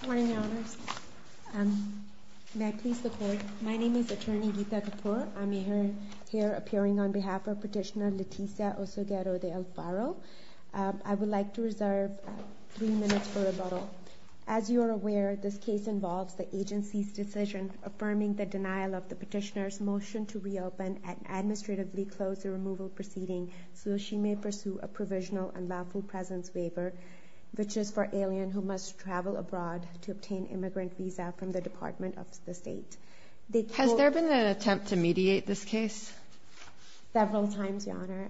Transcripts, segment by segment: Good morning, Your Honors. May I please look forward? My name is Attorney Geetha Kapoor. I'm here appearing on behalf of Petitioner Leticia Osegueda De Alfaro. I would like to reserve three minutes for rebuttal. As you are aware, this case involves the agency's decision affirming the denial of the petitioner's motion to reopen and administratively close the removal proceeding so she may pursue a provisional unlawful presence waiver, which is for alien who must travel abroad to obtain immigrant visa from the Department of the State. Has there been an attempt to mediate this case? Several times, Your Honor.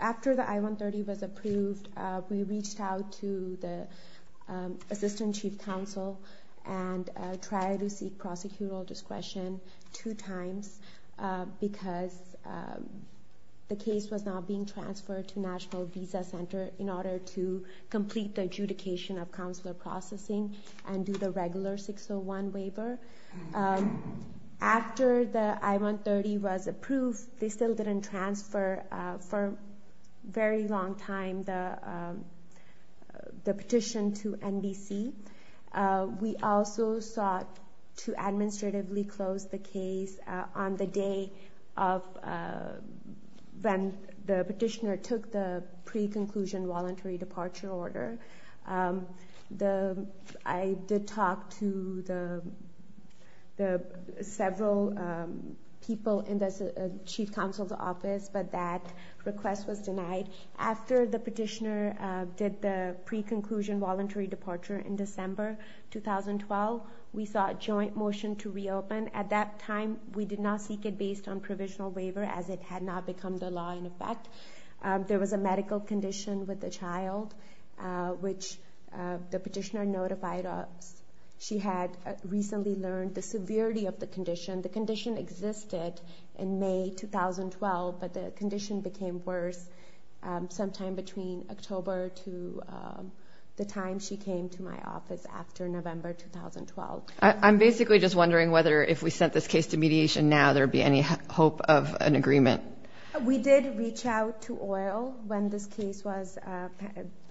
After the I-130 was approved, we reached out to the Assistant Chief Counsel and tried to seek prosecutorial discretion two times because the case was not being transferred to National Visa Center in order to complete the adjudication of counselor processing and do the regular 601 waiver. After the I-130 was approved, they still didn't transfer for a very long time the petition to NBC. We also sought to administratively close the case on the day when the petitioner took the pre-conclusion voluntary departure order. I did talk to several people in the Chief Counsel's office, but that request was denied. After the petitioner did the pre-conclusion voluntary departure in December 2012, we sought joint motion to reopen. At that time, we did not seek it based on provisional waiver as it had not become the law in effect. There was a medical condition with the child, which the petitioner notified us she had recently learned the severity of the condition. The condition existed in May 2012, but the condition became worse sometime between October to the time she came to my office after November 2012. I'm basically just wondering whether if we sent this case to mediation now, there would be any hope of an agreement. We did reach out to OIL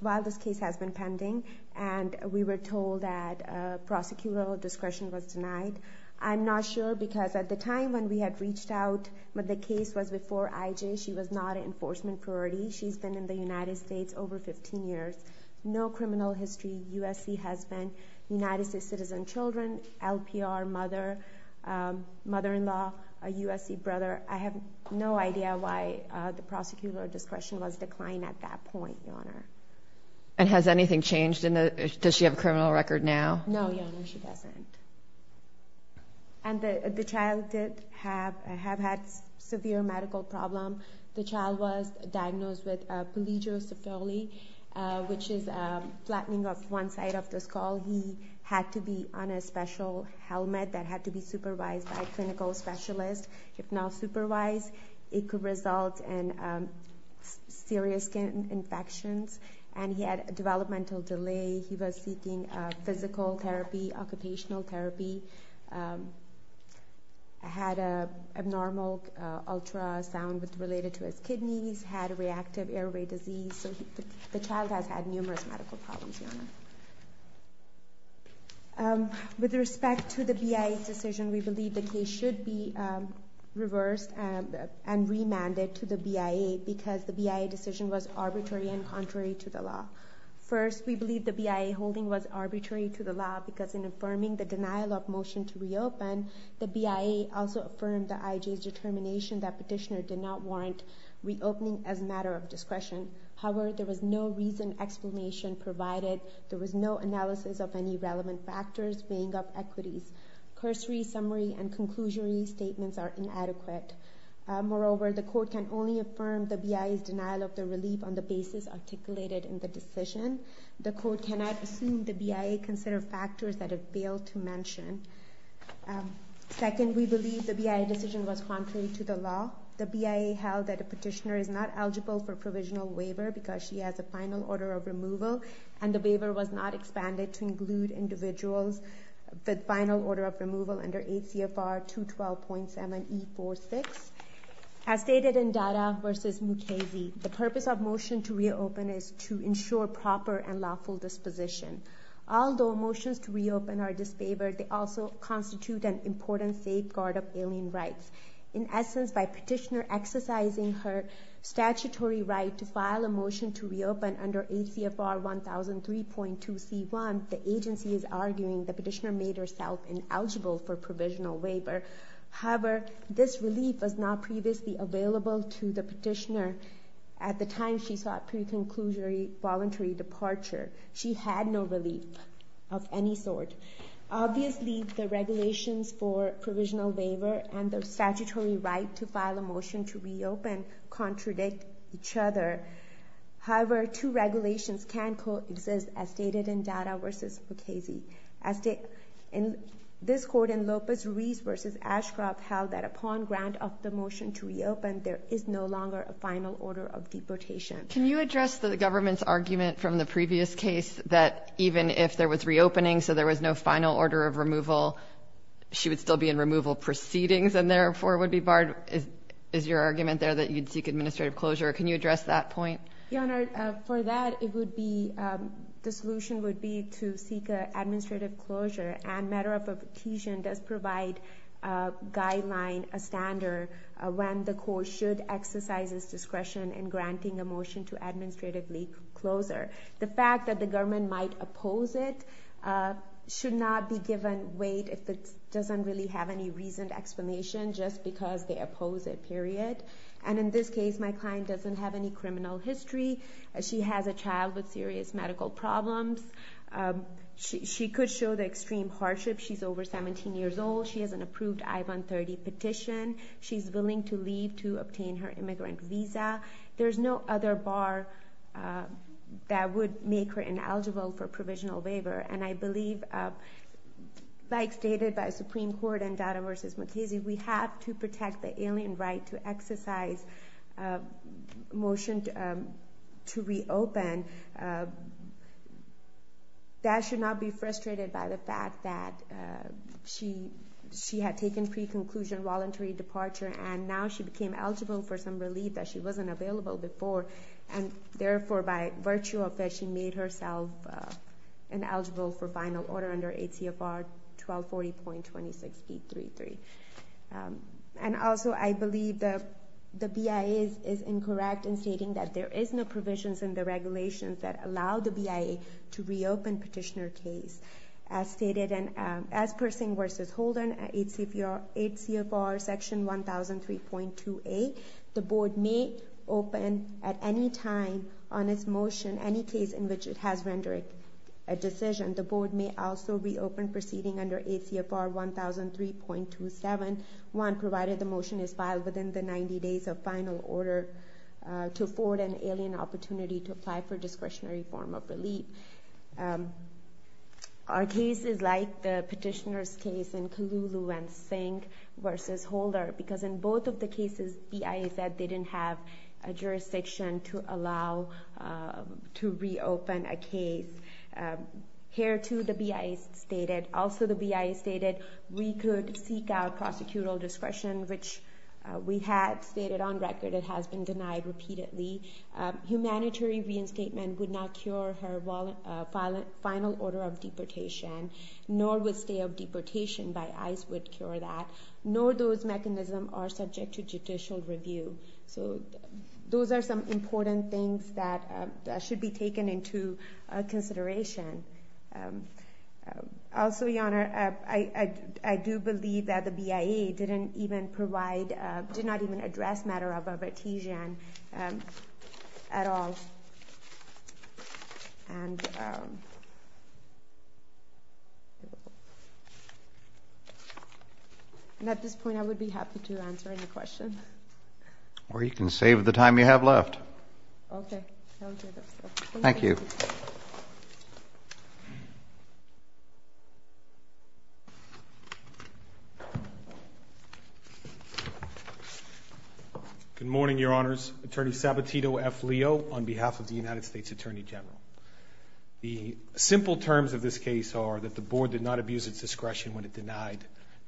while this case has been pending, and we were told that prosecutorial discretion was denied. I'm not sure because at the time when we had reached out, the case was before IJ. She was not an enforcement priority. She's been in the United States over 15 years. No criminal history. USC husband, United States citizen children, LPR mother, mother-in-law, a USC brother. I have no idea why the prosecutorial discretion was declined at that point, Your Honor. Has anything changed? Does she have a criminal record now? No, Your Honor, she doesn't. The child did have a severe medical problem. The child was diagnosed with polygyrocephaly, which is flattening of one side of the skull. He had to be on a special helmet that had to be supervised by a clinical specialist. If not supervised, it could result in serious skin infections. And he had developmental delay. He was seeking physical therapy, occupational therapy. Had an abnormal ultrasound related to his kidneys. Had reactive airway disease. With respect to the BIA decision, we believe the case should be reversed and remanded to the BIA because the BIA decision was arbitrary and contrary to the law. First, we believe the BIA holding was arbitrary to the law because in affirming the denial of motion to reopen, the BIA also affirmed the IJ's determination that petitioner did not want reopening as a matter of discretion. However, there was no reason explanation provided. There was no analysis of any relevant factors weighing up equities. Cursory summary and conclusionary statements are inadequate. Moreover, the court can only affirm the BIA's denial of the relief on the basis articulated in the decision. The court cannot assume the BIA considered factors that it failed to mention. Second, we believe the BIA decision was contrary to the law. The BIA held that the petitioner is not eligible for provisional waiver because she has a final order of removal and the waiver was not expanded to include individuals with final order of removal under 8 CFR 212.7E46. As stated in Dada v. Mukasey, the purpose of motion to reopen is to ensure proper and lawful disposition. Although motions to reopen are disfavored, they also constitute an important safeguard of alien rights. In essence, by petitioner exercising her statutory right to file a motion to reopen under 8 CFR 1003.2C1, the agency is arguing the petitioner made herself ineligible for provisional waiver. However, this relief was not previously available to the petitioner at the time she sought pre-conclusory voluntary departure. She had no relief of any sort. Obviously, the regulations for provisional waiver and the statutory right to file a motion to reopen contradict each other. However, two regulations can coexist as stated in Dada v. Mukasey. This court in Lopez Ruiz v. Ashcroft held that upon grant of the motion to reopen, there is no longer a final order of deportation. Can you address the government's argument from the previous case that even if there was reopening, so there was no final order of removal, she would still be in removal proceedings and therefore would be barred? Is your argument there that you'd seek administrative closure? Can you address that point? Your Honor, for that, the solution would be to seek administrative closure. And matter of petition does provide a guideline, a standard, when the court should exercise its discretion in granting a motion to administratively close her. The fact that the government might oppose it should not be given weight if it doesn't really have any reasoned explanation just because they oppose it, period. And in this case, my client doesn't have any criminal history. She has a child with serious medical problems. She could show the extreme hardship. She's over 17 years old. She has an approved I-130 petition. She's willing to leave to obtain her immigrant visa. There's no other bar that would make her ineligible for provisional waiver. And I believe, like stated by the Supreme Court in Dada v. McKenzie, we have to protect the alien right to exercise a motion to reopen. That should not be frustrated by the fact that she had taken pre-conclusion voluntary departure and now she became eligible for some relief that she wasn't available before. And therefore, by virtue of that, she made herself ineligible for final order under 8 CFR 1240.26B33. And also, I believe the BIA is incorrect in stating that there is no provisions in the regulations that allow the BIA to reopen petitioner case. As per Singh v. Holden, 8 CFR section 1003.28, the board may open at any time on this motion any case in which it has rendered a decision. The board may also reopen proceeding under 8 CFR 1003.271 provided the motion is filed within the 90 days of final order to afford an alien opportunity to apply for discretionary form of relief. Our case is like the petitioner's case in Kululu and Singh v. Holden because in both of the cases, BIA said they didn't have a jurisdiction to allow to reopen a case. Here too, the BIA stated, also the BIA stated, we could seek out prosecutorial discretion, which we had stated on record, it has been denied repeatedly. Humanitarian reinstatement would not cure her final order of deportation, nor would stay of deportation by ICE would cure that, nor those mechanisms are subject to judicial review. So those are some important things that should be taken into consideration. Also, Your Honor, I do believe that the BIA didn't even provide, did not even address matter of a petition at all. And at this point, I would be happy to answer any questions. Or you can save the time you have left. Okay. Thank you. Thank you. Good morning, Your Honors. Attorney Sabatino F. Leo on behalf of the United States Attorney General. The simple terms of this case are that the board did not abuse its discretion when it denied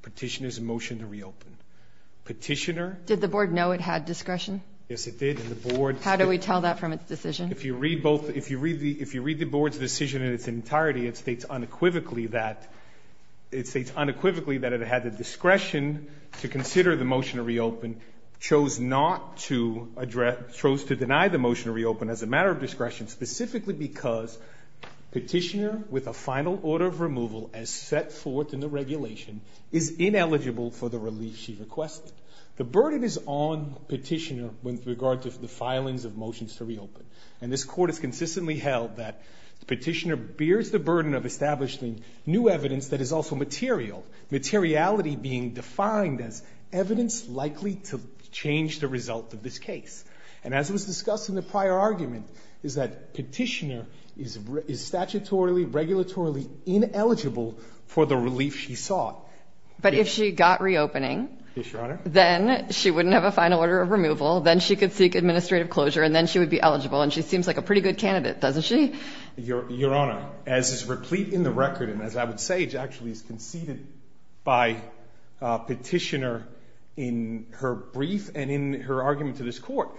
petitioner's motion to reopen. Petitioner- Did the board know it had discretion? Yes, it did, and the board- How do we tell that from its decision? If you read the board's decision in its entirety, it states unequivocally that it had the discretion to consider the motion to reopen, chose to deny the motion to reopen as a matter of discretion, specifically because petitioner with a final order of removal as set forth in the regulation is ineligible for the relief she requested. The burden is on petitioner with regard to the filings of motions to reopen. And this court has consistently held that petitioner bears the burden of establishing new evidence that is also material, materiality being defined as evidence likely to change the result of this case. And as was discussed in the prior argument, is that petitioner is statutorily, regulatorily ineligible for the relief she sought. But if she got reopening- Yes, Your Honor. Then she wouldn't have a final order of removal, then she could seek administrative closure, and then she would be eligible, and she seems like a pretty good candidate, doesn't she? Your Honor, as is replete in the record, and as I would say, it actually is conceded by petitioner in her brief and in her argument to this court,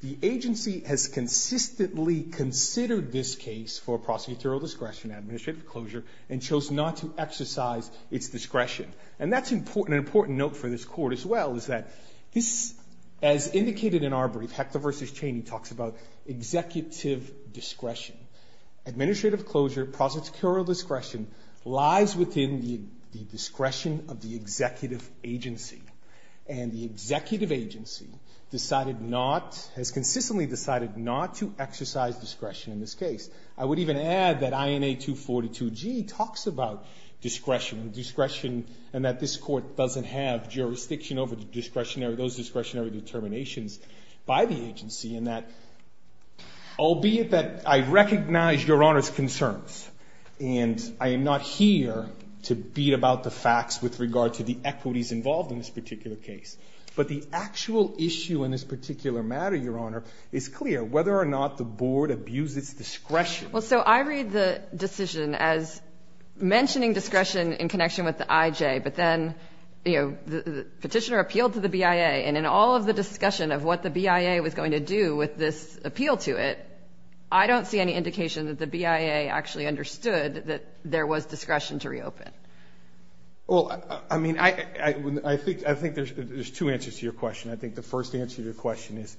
the agency has consistently considered this case for prosecutorial discretion, administrative closure, and chose not to exercise its discretion. And that's an important note for this court as well, is that this, as indicated in our brief, Hector v. Cheney talks about executive discretion. Administrative closure, prosecutorial discretion, lies within the discretion of the executive agency. And the executive agency decided not, has consistently decided not to exercise discretion in this case. I would even add that INA 242G talks about discretion, discretion, and that this court doesn't have jurisdiction over the discretionary, those discretionary determinations by the agency, and that, albeit that I recognize Your Honor's concerns, and I am not here to beat about the facts with regard to the equities involved in this particular case, but the actual issue in this particular matter, Your Honor, is clear, whether or not the board abused its discretion. Well, so I read the decision as mentioning discretion in connection with the IJ, but then, you know, the petitioner appealed to the BIA, and in all of the discussion of what the BIA was going to do with this appeal to it, I don't see any indication that the BIA actually understood that there was discretion to reopen. Well, I mean, I think there's two answers to your question. I think the first answer to your question is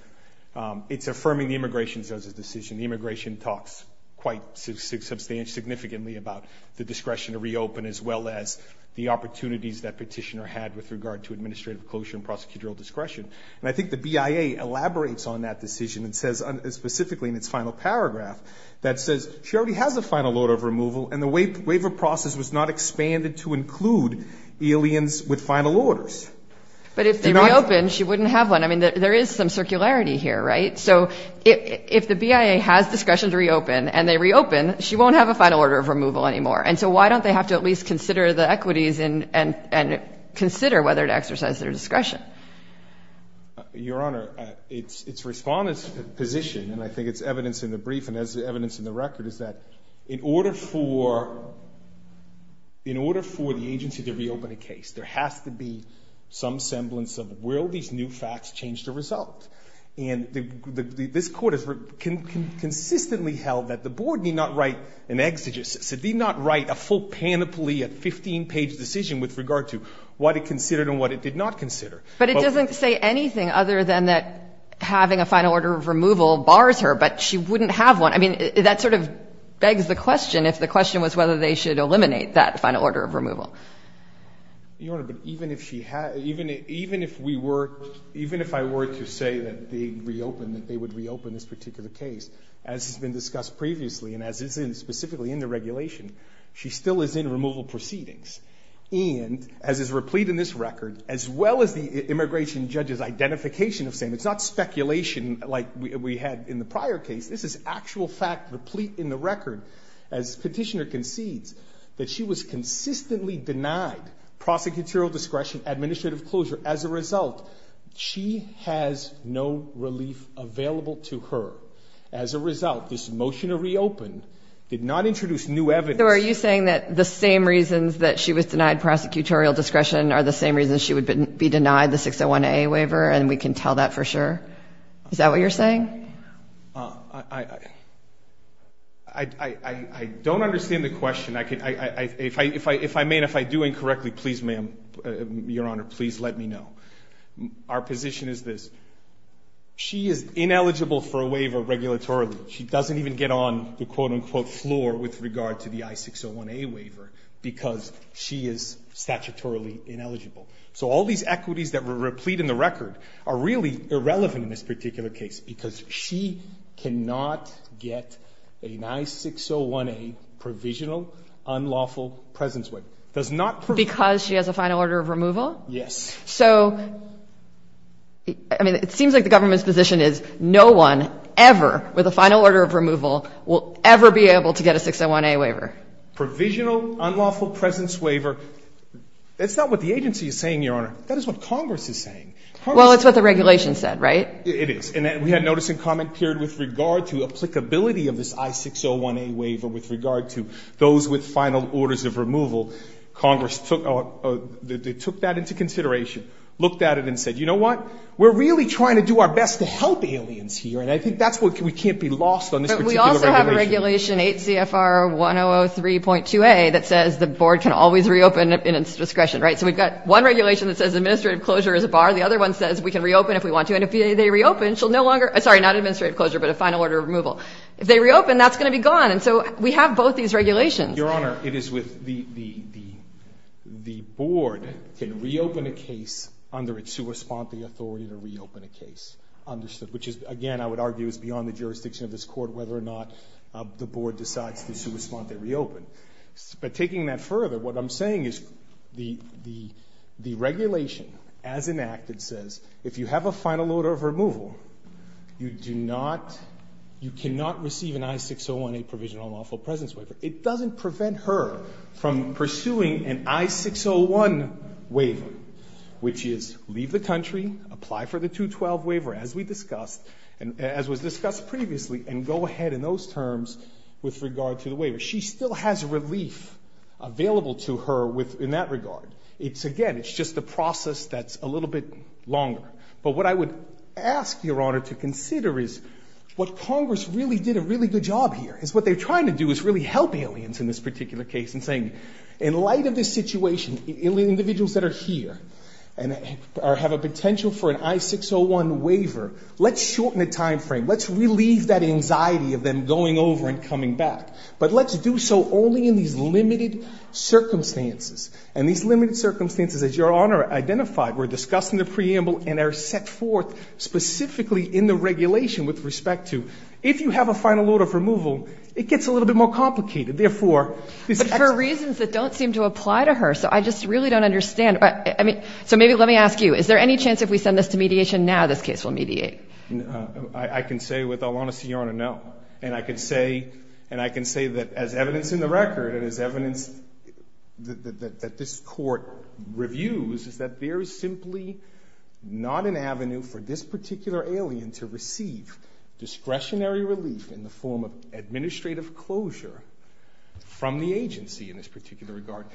it's affirming the immigration judge's decision. Immigration talks quite substantially, significantly about the discretion to reopen, as well as the opportunities that petitioner had with regard to administrative closure and prosecutorial discretion. And I think the BIA elaborates on that decision and says, specifically in its final paragraph, that says she already has a final order of removal, and the waiver process was not expanded to include aliens with final orders. But if they reopened, she wouldn't have one. I mean, there is some circularity here, right? So if the BIA has discretion to reopen and they reopen, she won't have a final order of removal anymore. And so why don't they have to at least consider the equities and consider whether to exercise their discretion? Your Honor, it's Respondent's position, and I think it's evidence in the brief and evidence in the record, is that in order for the agency to reopen a case, there has to be some semblance of will these new facts change the result? And this Court has consistently held that the Board need not write an exegesis, it need not write a full panoply, a 15-page decision with regard to what it considered and what it did not consider. But it doesn't say anything other than that having a final order of removal bars her, but she wouldn't have one. I mean, that sort of begs the question if the question was whether they should eliminate that final order of removal. Your Honor, but even if she had, even if we were, even if I were to say that they reopened, that they would reopen this particular case, as has been discussed previously and as is specifically in the regulation, she still is in removal proceedings. And as is replete in this record, as well as the immigration judge's identification of same, it's not speculation like we had in the prior case. This is actual fact replete in the record. As Petitioner concedes that she was consistently denied prosecutorial discretion, administrative closure. As a result, she has no relief available to her. As a result, this motion to reopen did not introduce new evidence. So are you saying that the same reasons that she was denied prosecutorial discretion are the same reasons she would be denied the 601A waiver and we can tell that for sure? Is that what you're saying? I don't understand the question. If I may and if I do incorrectly, please, ma'am, Your Honor, please let me know. Our position is this. She is ineligible for a waiver regulatorily. She doesn't even get on the, quote, unquote, floor with regard to the I-601A waiver because she is statutorily ineligible. So all these equities that were replete in the record are really irrelevant in this particular case because she cannot get an I-601A provisional unlawful presence waiver. Because she has a final order of removal? Yes. So, I mean, it seems like the government's position is no one ever with a final order of removal will ever be able to get a 601A waiver. Provisional unlawful presence waiver, that's not what the agency is saying, Your Honor. That is what Congress is saying. Well, it's what the regulation said, right? It is. And we had a notice and comment period with regard to applicability of this I-601A waiver with regard to those with final orders of removal. Congress took that into consideration, looked at it and said, you know what? We're really trying to do our best to help aliens here, and I think that's why we can't be lost on this particular regulation. But we also have a regulation, 8 CFR 1003.2A, that says the board can always reopen in its discretion, right? So we've got one regulation that says administrative closure is a bar. The other one says we can reopen if we want to. And if they reopen, she'll no longer – sorry, not administrative closure, but a final order of removal. If they reopen, that's going to be gone. And so we have both these regulations. Your Honor, it is with the board can reopen a case under its sua sponte authority to reopen a case. Understood? Which is, again, I would argue is beyond the jurisdiction of this Court whether or not the board decides to sua sponte reopen. But taking that further, what I'm saying is the regulation as enacted says if you have a final order of removal, you do not – you cannot receive an I-601A provisional lawful presence waiver. It doesn't prevent her from pursuing an I-601 waiver, which is leave the country, apply for the 212 waiver as we discussed – as was discussed previously, and go ahead in those terms with regard to the waiver. She still has relief available to her with – in that regard. It's – again, it's just a process that's a little bit longer. But what I would ask Your Honor to consider is what Congress really did a really good job here, is what they're trying to do is really help aliens in this particular case in saying in light of this situation, individuals that are here and have a potential for an I-601 waiver, let's shorten the time frame. Let's relieve that anxiety of them going over and coming back. But let's do so only in these limited circumstances. And these limited circumstances, as Your Honor identified, were discussed in the preamble and are set forth specifically in the regulation with respect to if you have a final order of removal, it gets a little bit more complicated. Therefore, this – But for reasons that don't seem to apply to her, so I just really don't understand. I mean – so maybe let me ask you. Is there any chance if we send this to mediation now this case will mediate? I can say with all honesty, Your Honor, no. And I can say – and I can say that as evidence in the record and as evidence that this Court reviews is that there is simply not an avenue for this particular alien to receive discretionary relief in the form of administrative closure from the agency in this particular regard.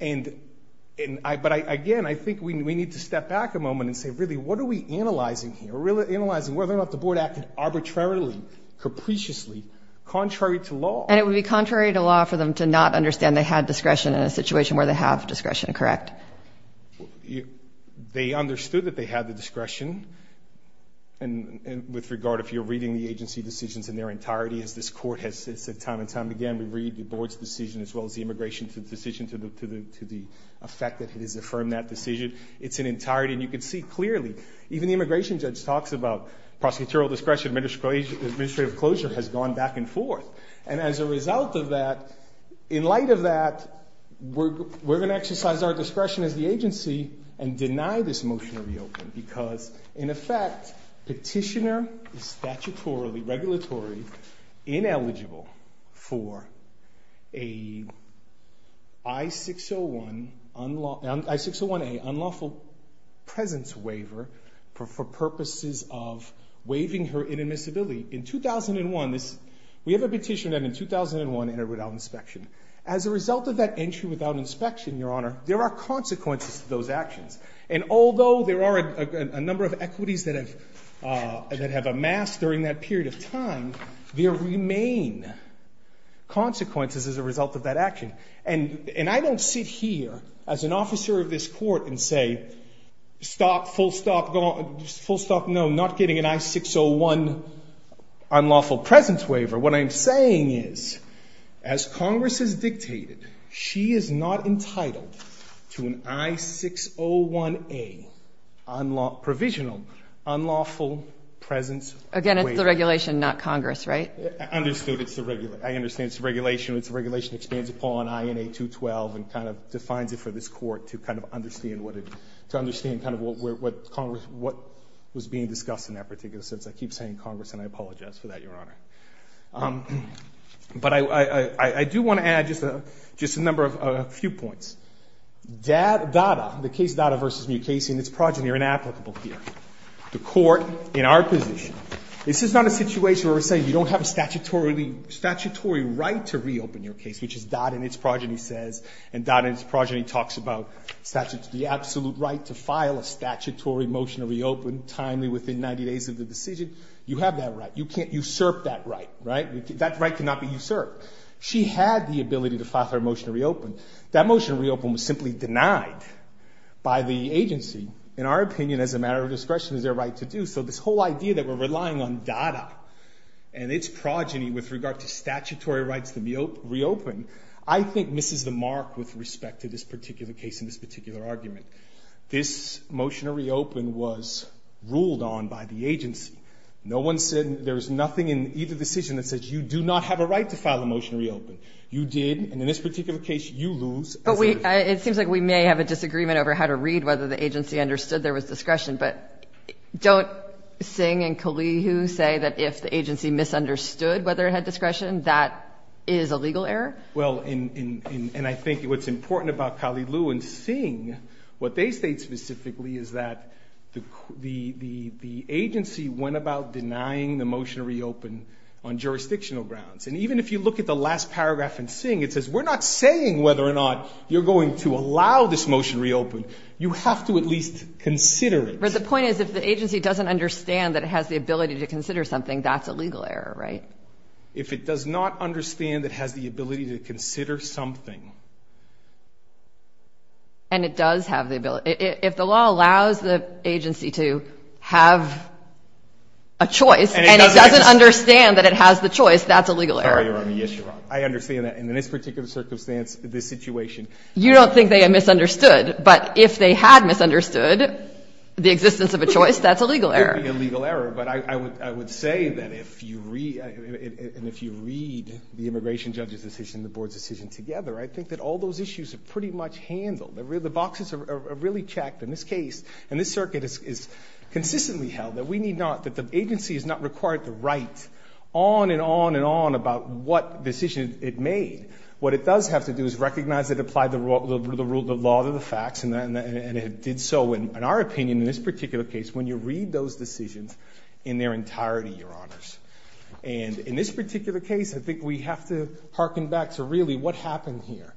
And – but again, I think we need to step back a moment and say, really, what are we analyzing here? We're analyzing whether or not the Board acted arbitrarily, capriciously, contrary to law. And it would be contrary to law for them to not understand they had discretion in a situation where they have discretion, correct? They understood that they had the discretion. And with regard, if you're reading the agency decisions in their entirety, as this Court has said time and time again, we read the Board's decision as well as the immigration decision to the effect that it has affirmed that decision. It's in entirety. And you can see clearly, even the immigration judge talks about prosecutorial discretion, administrative closure has gone back and forth. And as a result of that, in light of that, we're going to exercise our discretion as the agency and deny this motion to reopen because, in effect, petitioner is statutorily, regulatory, ineligible for a I-601A unlawful presence waiver for purposes of waiving her inadmissibility. In 2001, we have a petition that in 2001 entered without inspection. As a result of that entry without inspection, Your Honor, there are consequences to those actions. And although there are a number of equities that have amassed during that period of time, there remain consequences as a result of that action. And I don't sit here as an officer of this Court and say, stop, full stop, no, not getting an I-601 unlawful presence waiver. What I'm saying is, as Congress has dictated, she is not entitled to an I-601A provisional unlawful presence waiver. Again, it's the regulation, not Congress, right? Understood. It's the regulation. I understand it's the regulation. It's the regulation that stands upon INA 212 and kind of defines it for this Court to kind of understand what it, to understand kind of what Congress, what was being discussed in that particular sense. I keep saying Congress, and I apologize for that, Your Honor. But I do want to add just a number of, a few points. Dada, the case Dada v. Mukasey and its progeny are inapplicable here. The Court in our position, this is not a situation where we're saying you don't have a statutory right to reopen your case, which is Dada and its progeny says, and Dada and its progeny talks about the absolute right to file a statutory motion to reopen timely within 90 days of the decision. You have that right. You can't usurp that right, right? That right cannot be usurped. She had the ability to file her motion to reopen. That motion to reopen was simply denied by the agency, in our opinion, as a matter of discretion as their right to do. So this whole idea that we're relying on Dada and its progeny with regard to statutory rights to reopen, I think misses the mark with respect to this particular case and this particular argument. This motion to reopen was ruled on by the agency. No one said there's nothing in either decision that says you do not have a right to file a motion to reopen. You did, and in this particular case, you lose. But we, it seems like we may have a disagreement over how to read whether the agency understood there was discretion. But don't Singh and Kalihu say that if the agency misunderstood whether it had discretion, that is a legal error? Well, and I think what's important about Kalihu and Singh, what they state specifically is that the agency went about denying the motion to reopen on jurisdictional grounds. And even if you look at the last paragraph in Singh, it says we're not saying whether or not you're going to allow this motion to reopen. You have to at least consider it. But the point is if the agency doesn't understand that it has the ability to consider something, that's a legal error, right? If it does not understand it has the ability to consider something. And it does have the ability. If the law allows the agency to have a choice and it doesn't understand that it has the choice, that's a legal error. Yes, Your Honor. I understand that. In this particular circumstance, this situation. You don't think they misunderstood. But if they had misunderstood the existence of a choice, that's a legal error. But I would say that if you read the immigration judge's decision and the board's decision together, I think that all those issues are pretty much handled. The boxes are really checked in this case. And this circuit is consistently held that we need not, that the agency is not required to write on and on and on about what decision it made. What it does have to do is recognize it applied the law to the facts and it did so. In our opinion, in this particular case, when you read those decisions in their entirety, Your Honors. And in this particular case, I think we have to hearken back to really what happened here.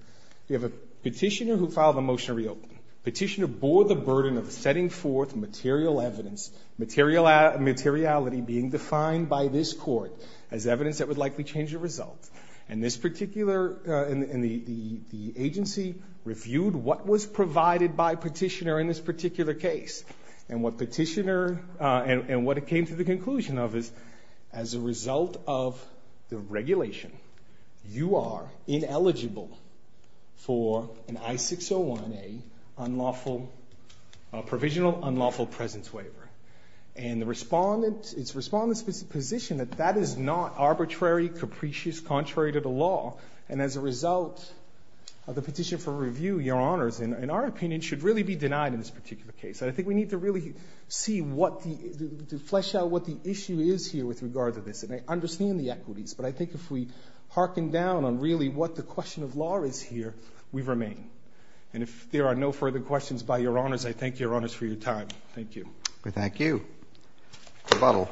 We have a petitioner who filed a motion to reopen. Petitioner bore the burden of setting forth material evidence, materiality being defined by this court as evidence that would likely change the result. And this particular, and the agency reviewed what was provided by petitioner in this particular case. And what petitioner, and what it came to the conclusion of is, as a result of the regulation, you are ineligible for an I-601A unlawful, provisional unlawful presence waiver. And the respondent, it's respondent's position that that is not arbitrary, capricious, contrary to the law. And as a result of the petition for review, Your Honors, in our opinion, should really be denied in this particular case. And I think we need to really see what the, to flesh out what the issue is here with regard to this. And I understand the equities, but I think if we hearken down on really what the question of law is here, we remain. And if there are no further questions by Your Honors, I thank Your Honors for your time. Thank you. Thank you. Thank you. Thank you. Thank you.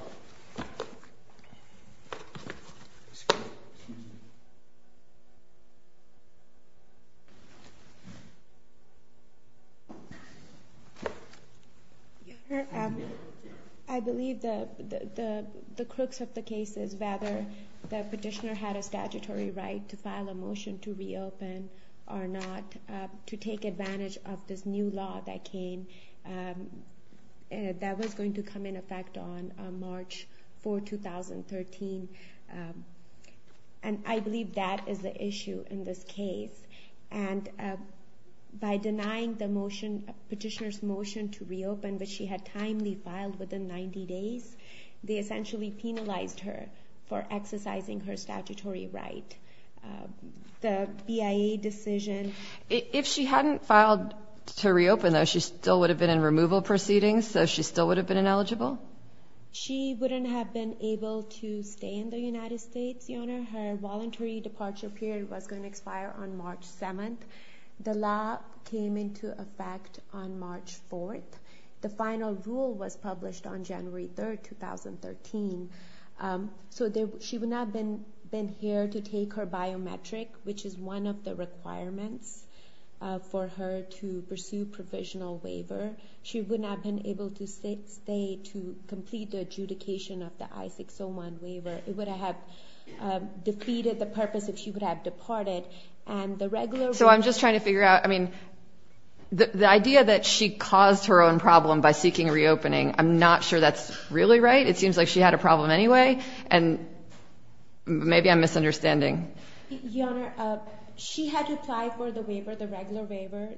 I believe the crooks of the case is whether the petitioner had a statutory right to file a motion to reopen or not, to take advantage of this new law that came, that was going to come into effect on March 4, 2013, and I believe that is the issue in this case. And by denying the petitioner's motion to reopen, which she had timely filed within 90 days, they essentially penalized her for exercising her statutory right. The BIA decision— If she hadn't filed to reopen, though, she still would have been in removal proceedings, so she still would have been ineligible? She wouldn't have been able to stay in the United States, Your Honor. Her voluntary departure period was going to expire on March 7. The law came into effect on March 4. The final rule was published on January 3, 2013. So she would not have been here to take her biometric, which is one of the requirements for her to pursue provisional waiver. She would not have been able to stay to complete the adjudication of the I-601 waiver. It would have defeated the purpose if she would have departed, and the regular rule— And so I'm just trying to figure out—I mean, the idea that she caused her own problem by seeking reopening, I'm not sure that's really right. It seems like she had a problem anyway, and maybe I'm misunderstanding. Your Honor, she had to apply for the waiver, the regular waiver,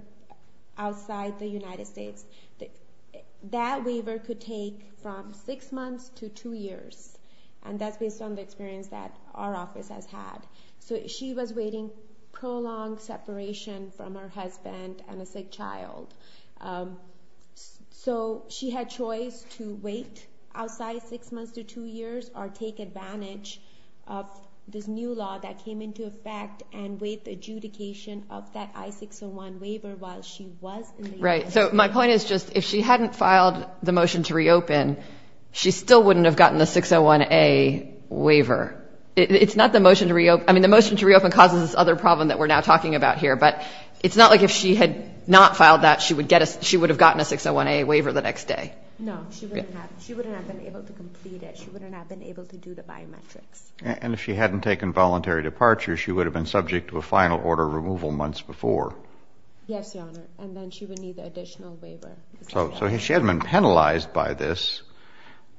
outside the United States. That waiver could take from six months to two years, and that's based on the experience that our office has had. So she was waiting prolonged separation from her husband and a sick child. So she had choice to wait outside six months to two years or take advantage of this new law that came into effect and wait the adjudication of that I-601 waiver while she was in the United States. Right, so my point is just if she hadn't filed the motion to reopen, she still wouldn't have gotten the 601A waiver. It's not the motion to reopen—I mean, the motion to reopen causes this other problem that we're now talking about here, but it's not like if she had not filed that, she would have gotten a 601A waiver the next day. No, she wouldn't have. She wouldn't have been able to complete it. She wouldn't have been able to do the biometrics. And if she hadn't taken voluntary departure, she would have been subject to a final order of removal months before. Yes, Your Honor, and then she would need the additional waiver. So she hasn't been penalized by this.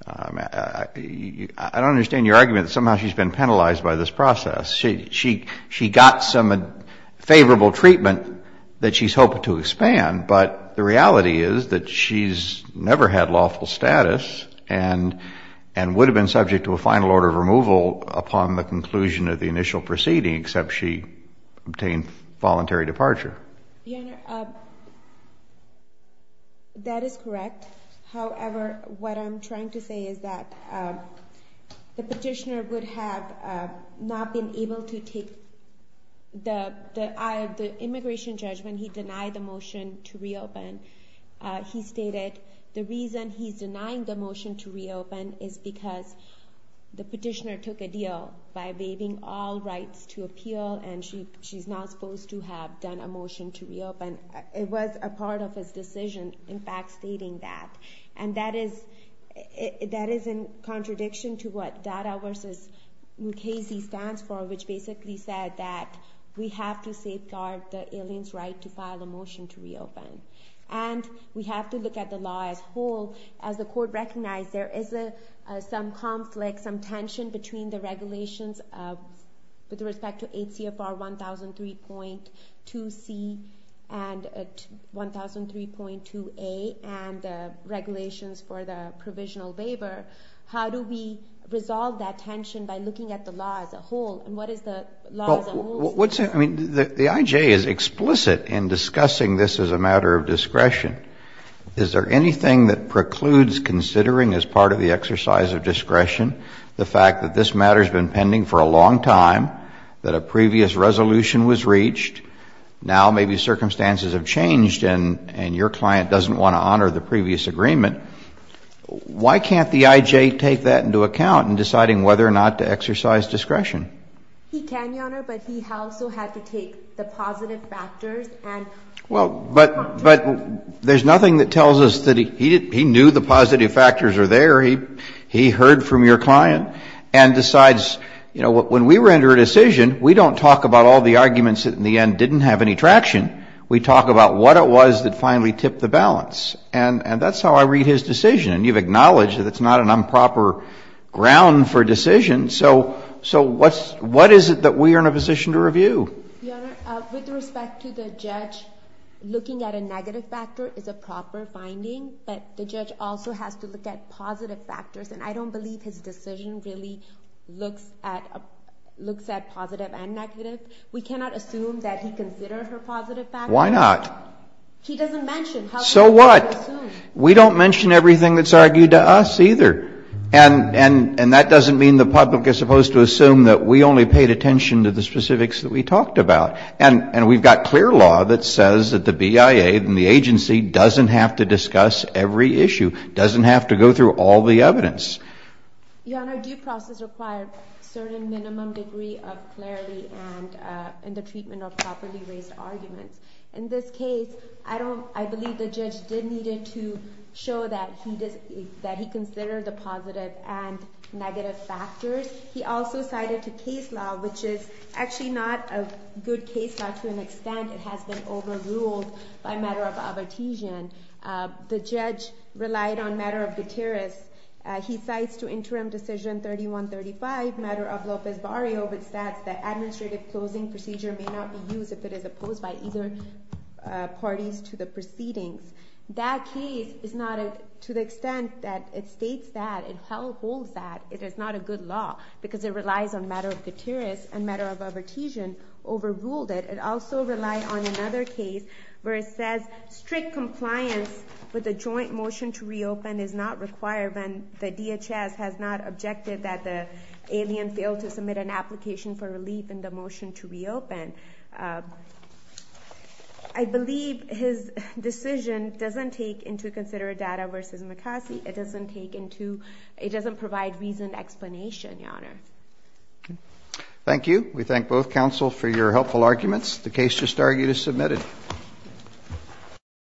I don't understand your argument that somehow she's been penalized by this process. She got some favorable treatment that she's hoping to expand, but the reality is that she's never had lawful status and would have been subject to a final order of removal upon the conclusion of the initial proceeding, except she obtained voluntary departure. Your Honor, that is correct. However, what I'm trying to say is that the petitioner would have not been able to take the immigration judgment. He denied the motion to reopen. He stated the reason he's denying the motion to reopen is because the petitioner took a deal by waiving all rights to appeal, and she's not supposed to have done a motion to reopen. It was a part of his decision, in fact, stating that. And that is in contradiction to what DADA v. Mukasey stands for, which basically said that we have to safeguard the alien's right to file a motion to reopen. And we have to look at the law as a whole. As the Court recognized, there is some conflict, some tension, between the regulations with respect to 8 CFR 1003.2C and 1003.2A and the regulations for the provisional waiver. How do we resolve that tension by looking at the law as a whole? And what is the law as a whole? I mean, the IJ is explicit in discussing this as a matter of discretion. Is there anything that precludes considering as part of the exercise of discretion the fact that this matter has been pending for a long time, that a previous resolution was reached, now maybe circumstances have changed and your client doesn't want to honor the previous agreement? Why can't the IJ take that into account in deciding whether or not to exercise discretion? He can, Your Honor, but he also had to take the positive factors. Well, but there's nothing that tells us that he knew the positive factors were there. He heard from your client and decides, you know, when we were under a decision, we don't talk about all the arguments that in the end didn't have any traction. We talk about what it was that finally tipped the balance. And that's how I read his decision. And you've acknowledged that it's not an improper ground for decision. So what is it that we are in a position to review? Your Honor, with respect to the judge, looking at a negative factor is a proper finding, but the judge also has to look at positive factors. And I don't believe his decision really looks at positive and negative. We cannot assume that he considered her positive factors. Why not? He doesn't mention how he thought or assumed. So what? We don't mention everything that's argued to us either. And that doesn't mean the public is supposed to assume that we only paid attention to the specifics that we talked about. And we've got clear law that says that the BIA and the agency doesn't have to discuss every issue, doesn't have to go through all the evidence. Your Honor, due process requires a certain minimum degree of clarity and the treatment of properly raised arguments. In this case, I believe the judge did need to show that he considered the positive and negative factors. He also cited a case law, which is actually not a good case law to an extent. It has been overruled by a matter of avertision. The judge relied on a matter of deterrence. He cites to Interim Decision 3135, a matter of Lopez Barrio, which states that administrative closing procedure may not be used if it is opposed by either parties to the proceedings. That case is not, to the extent that it states that, it holds that, it is not a good law. Because it relies on a matter of deterrence and a matter of avertision, overruled it. It also relies on another case where it says strict compliance with the joint motion to reopen is not required when the DHS has not objected that the alien failed to submit an application for relief in the motion to reopen. I believe his decision doesn't take into considered data versus McCarthy. It doesn't provide reasoned explanation, Your Honor. Thank you. We thank both counsel for your helpful arguments. The case just argued is submitted.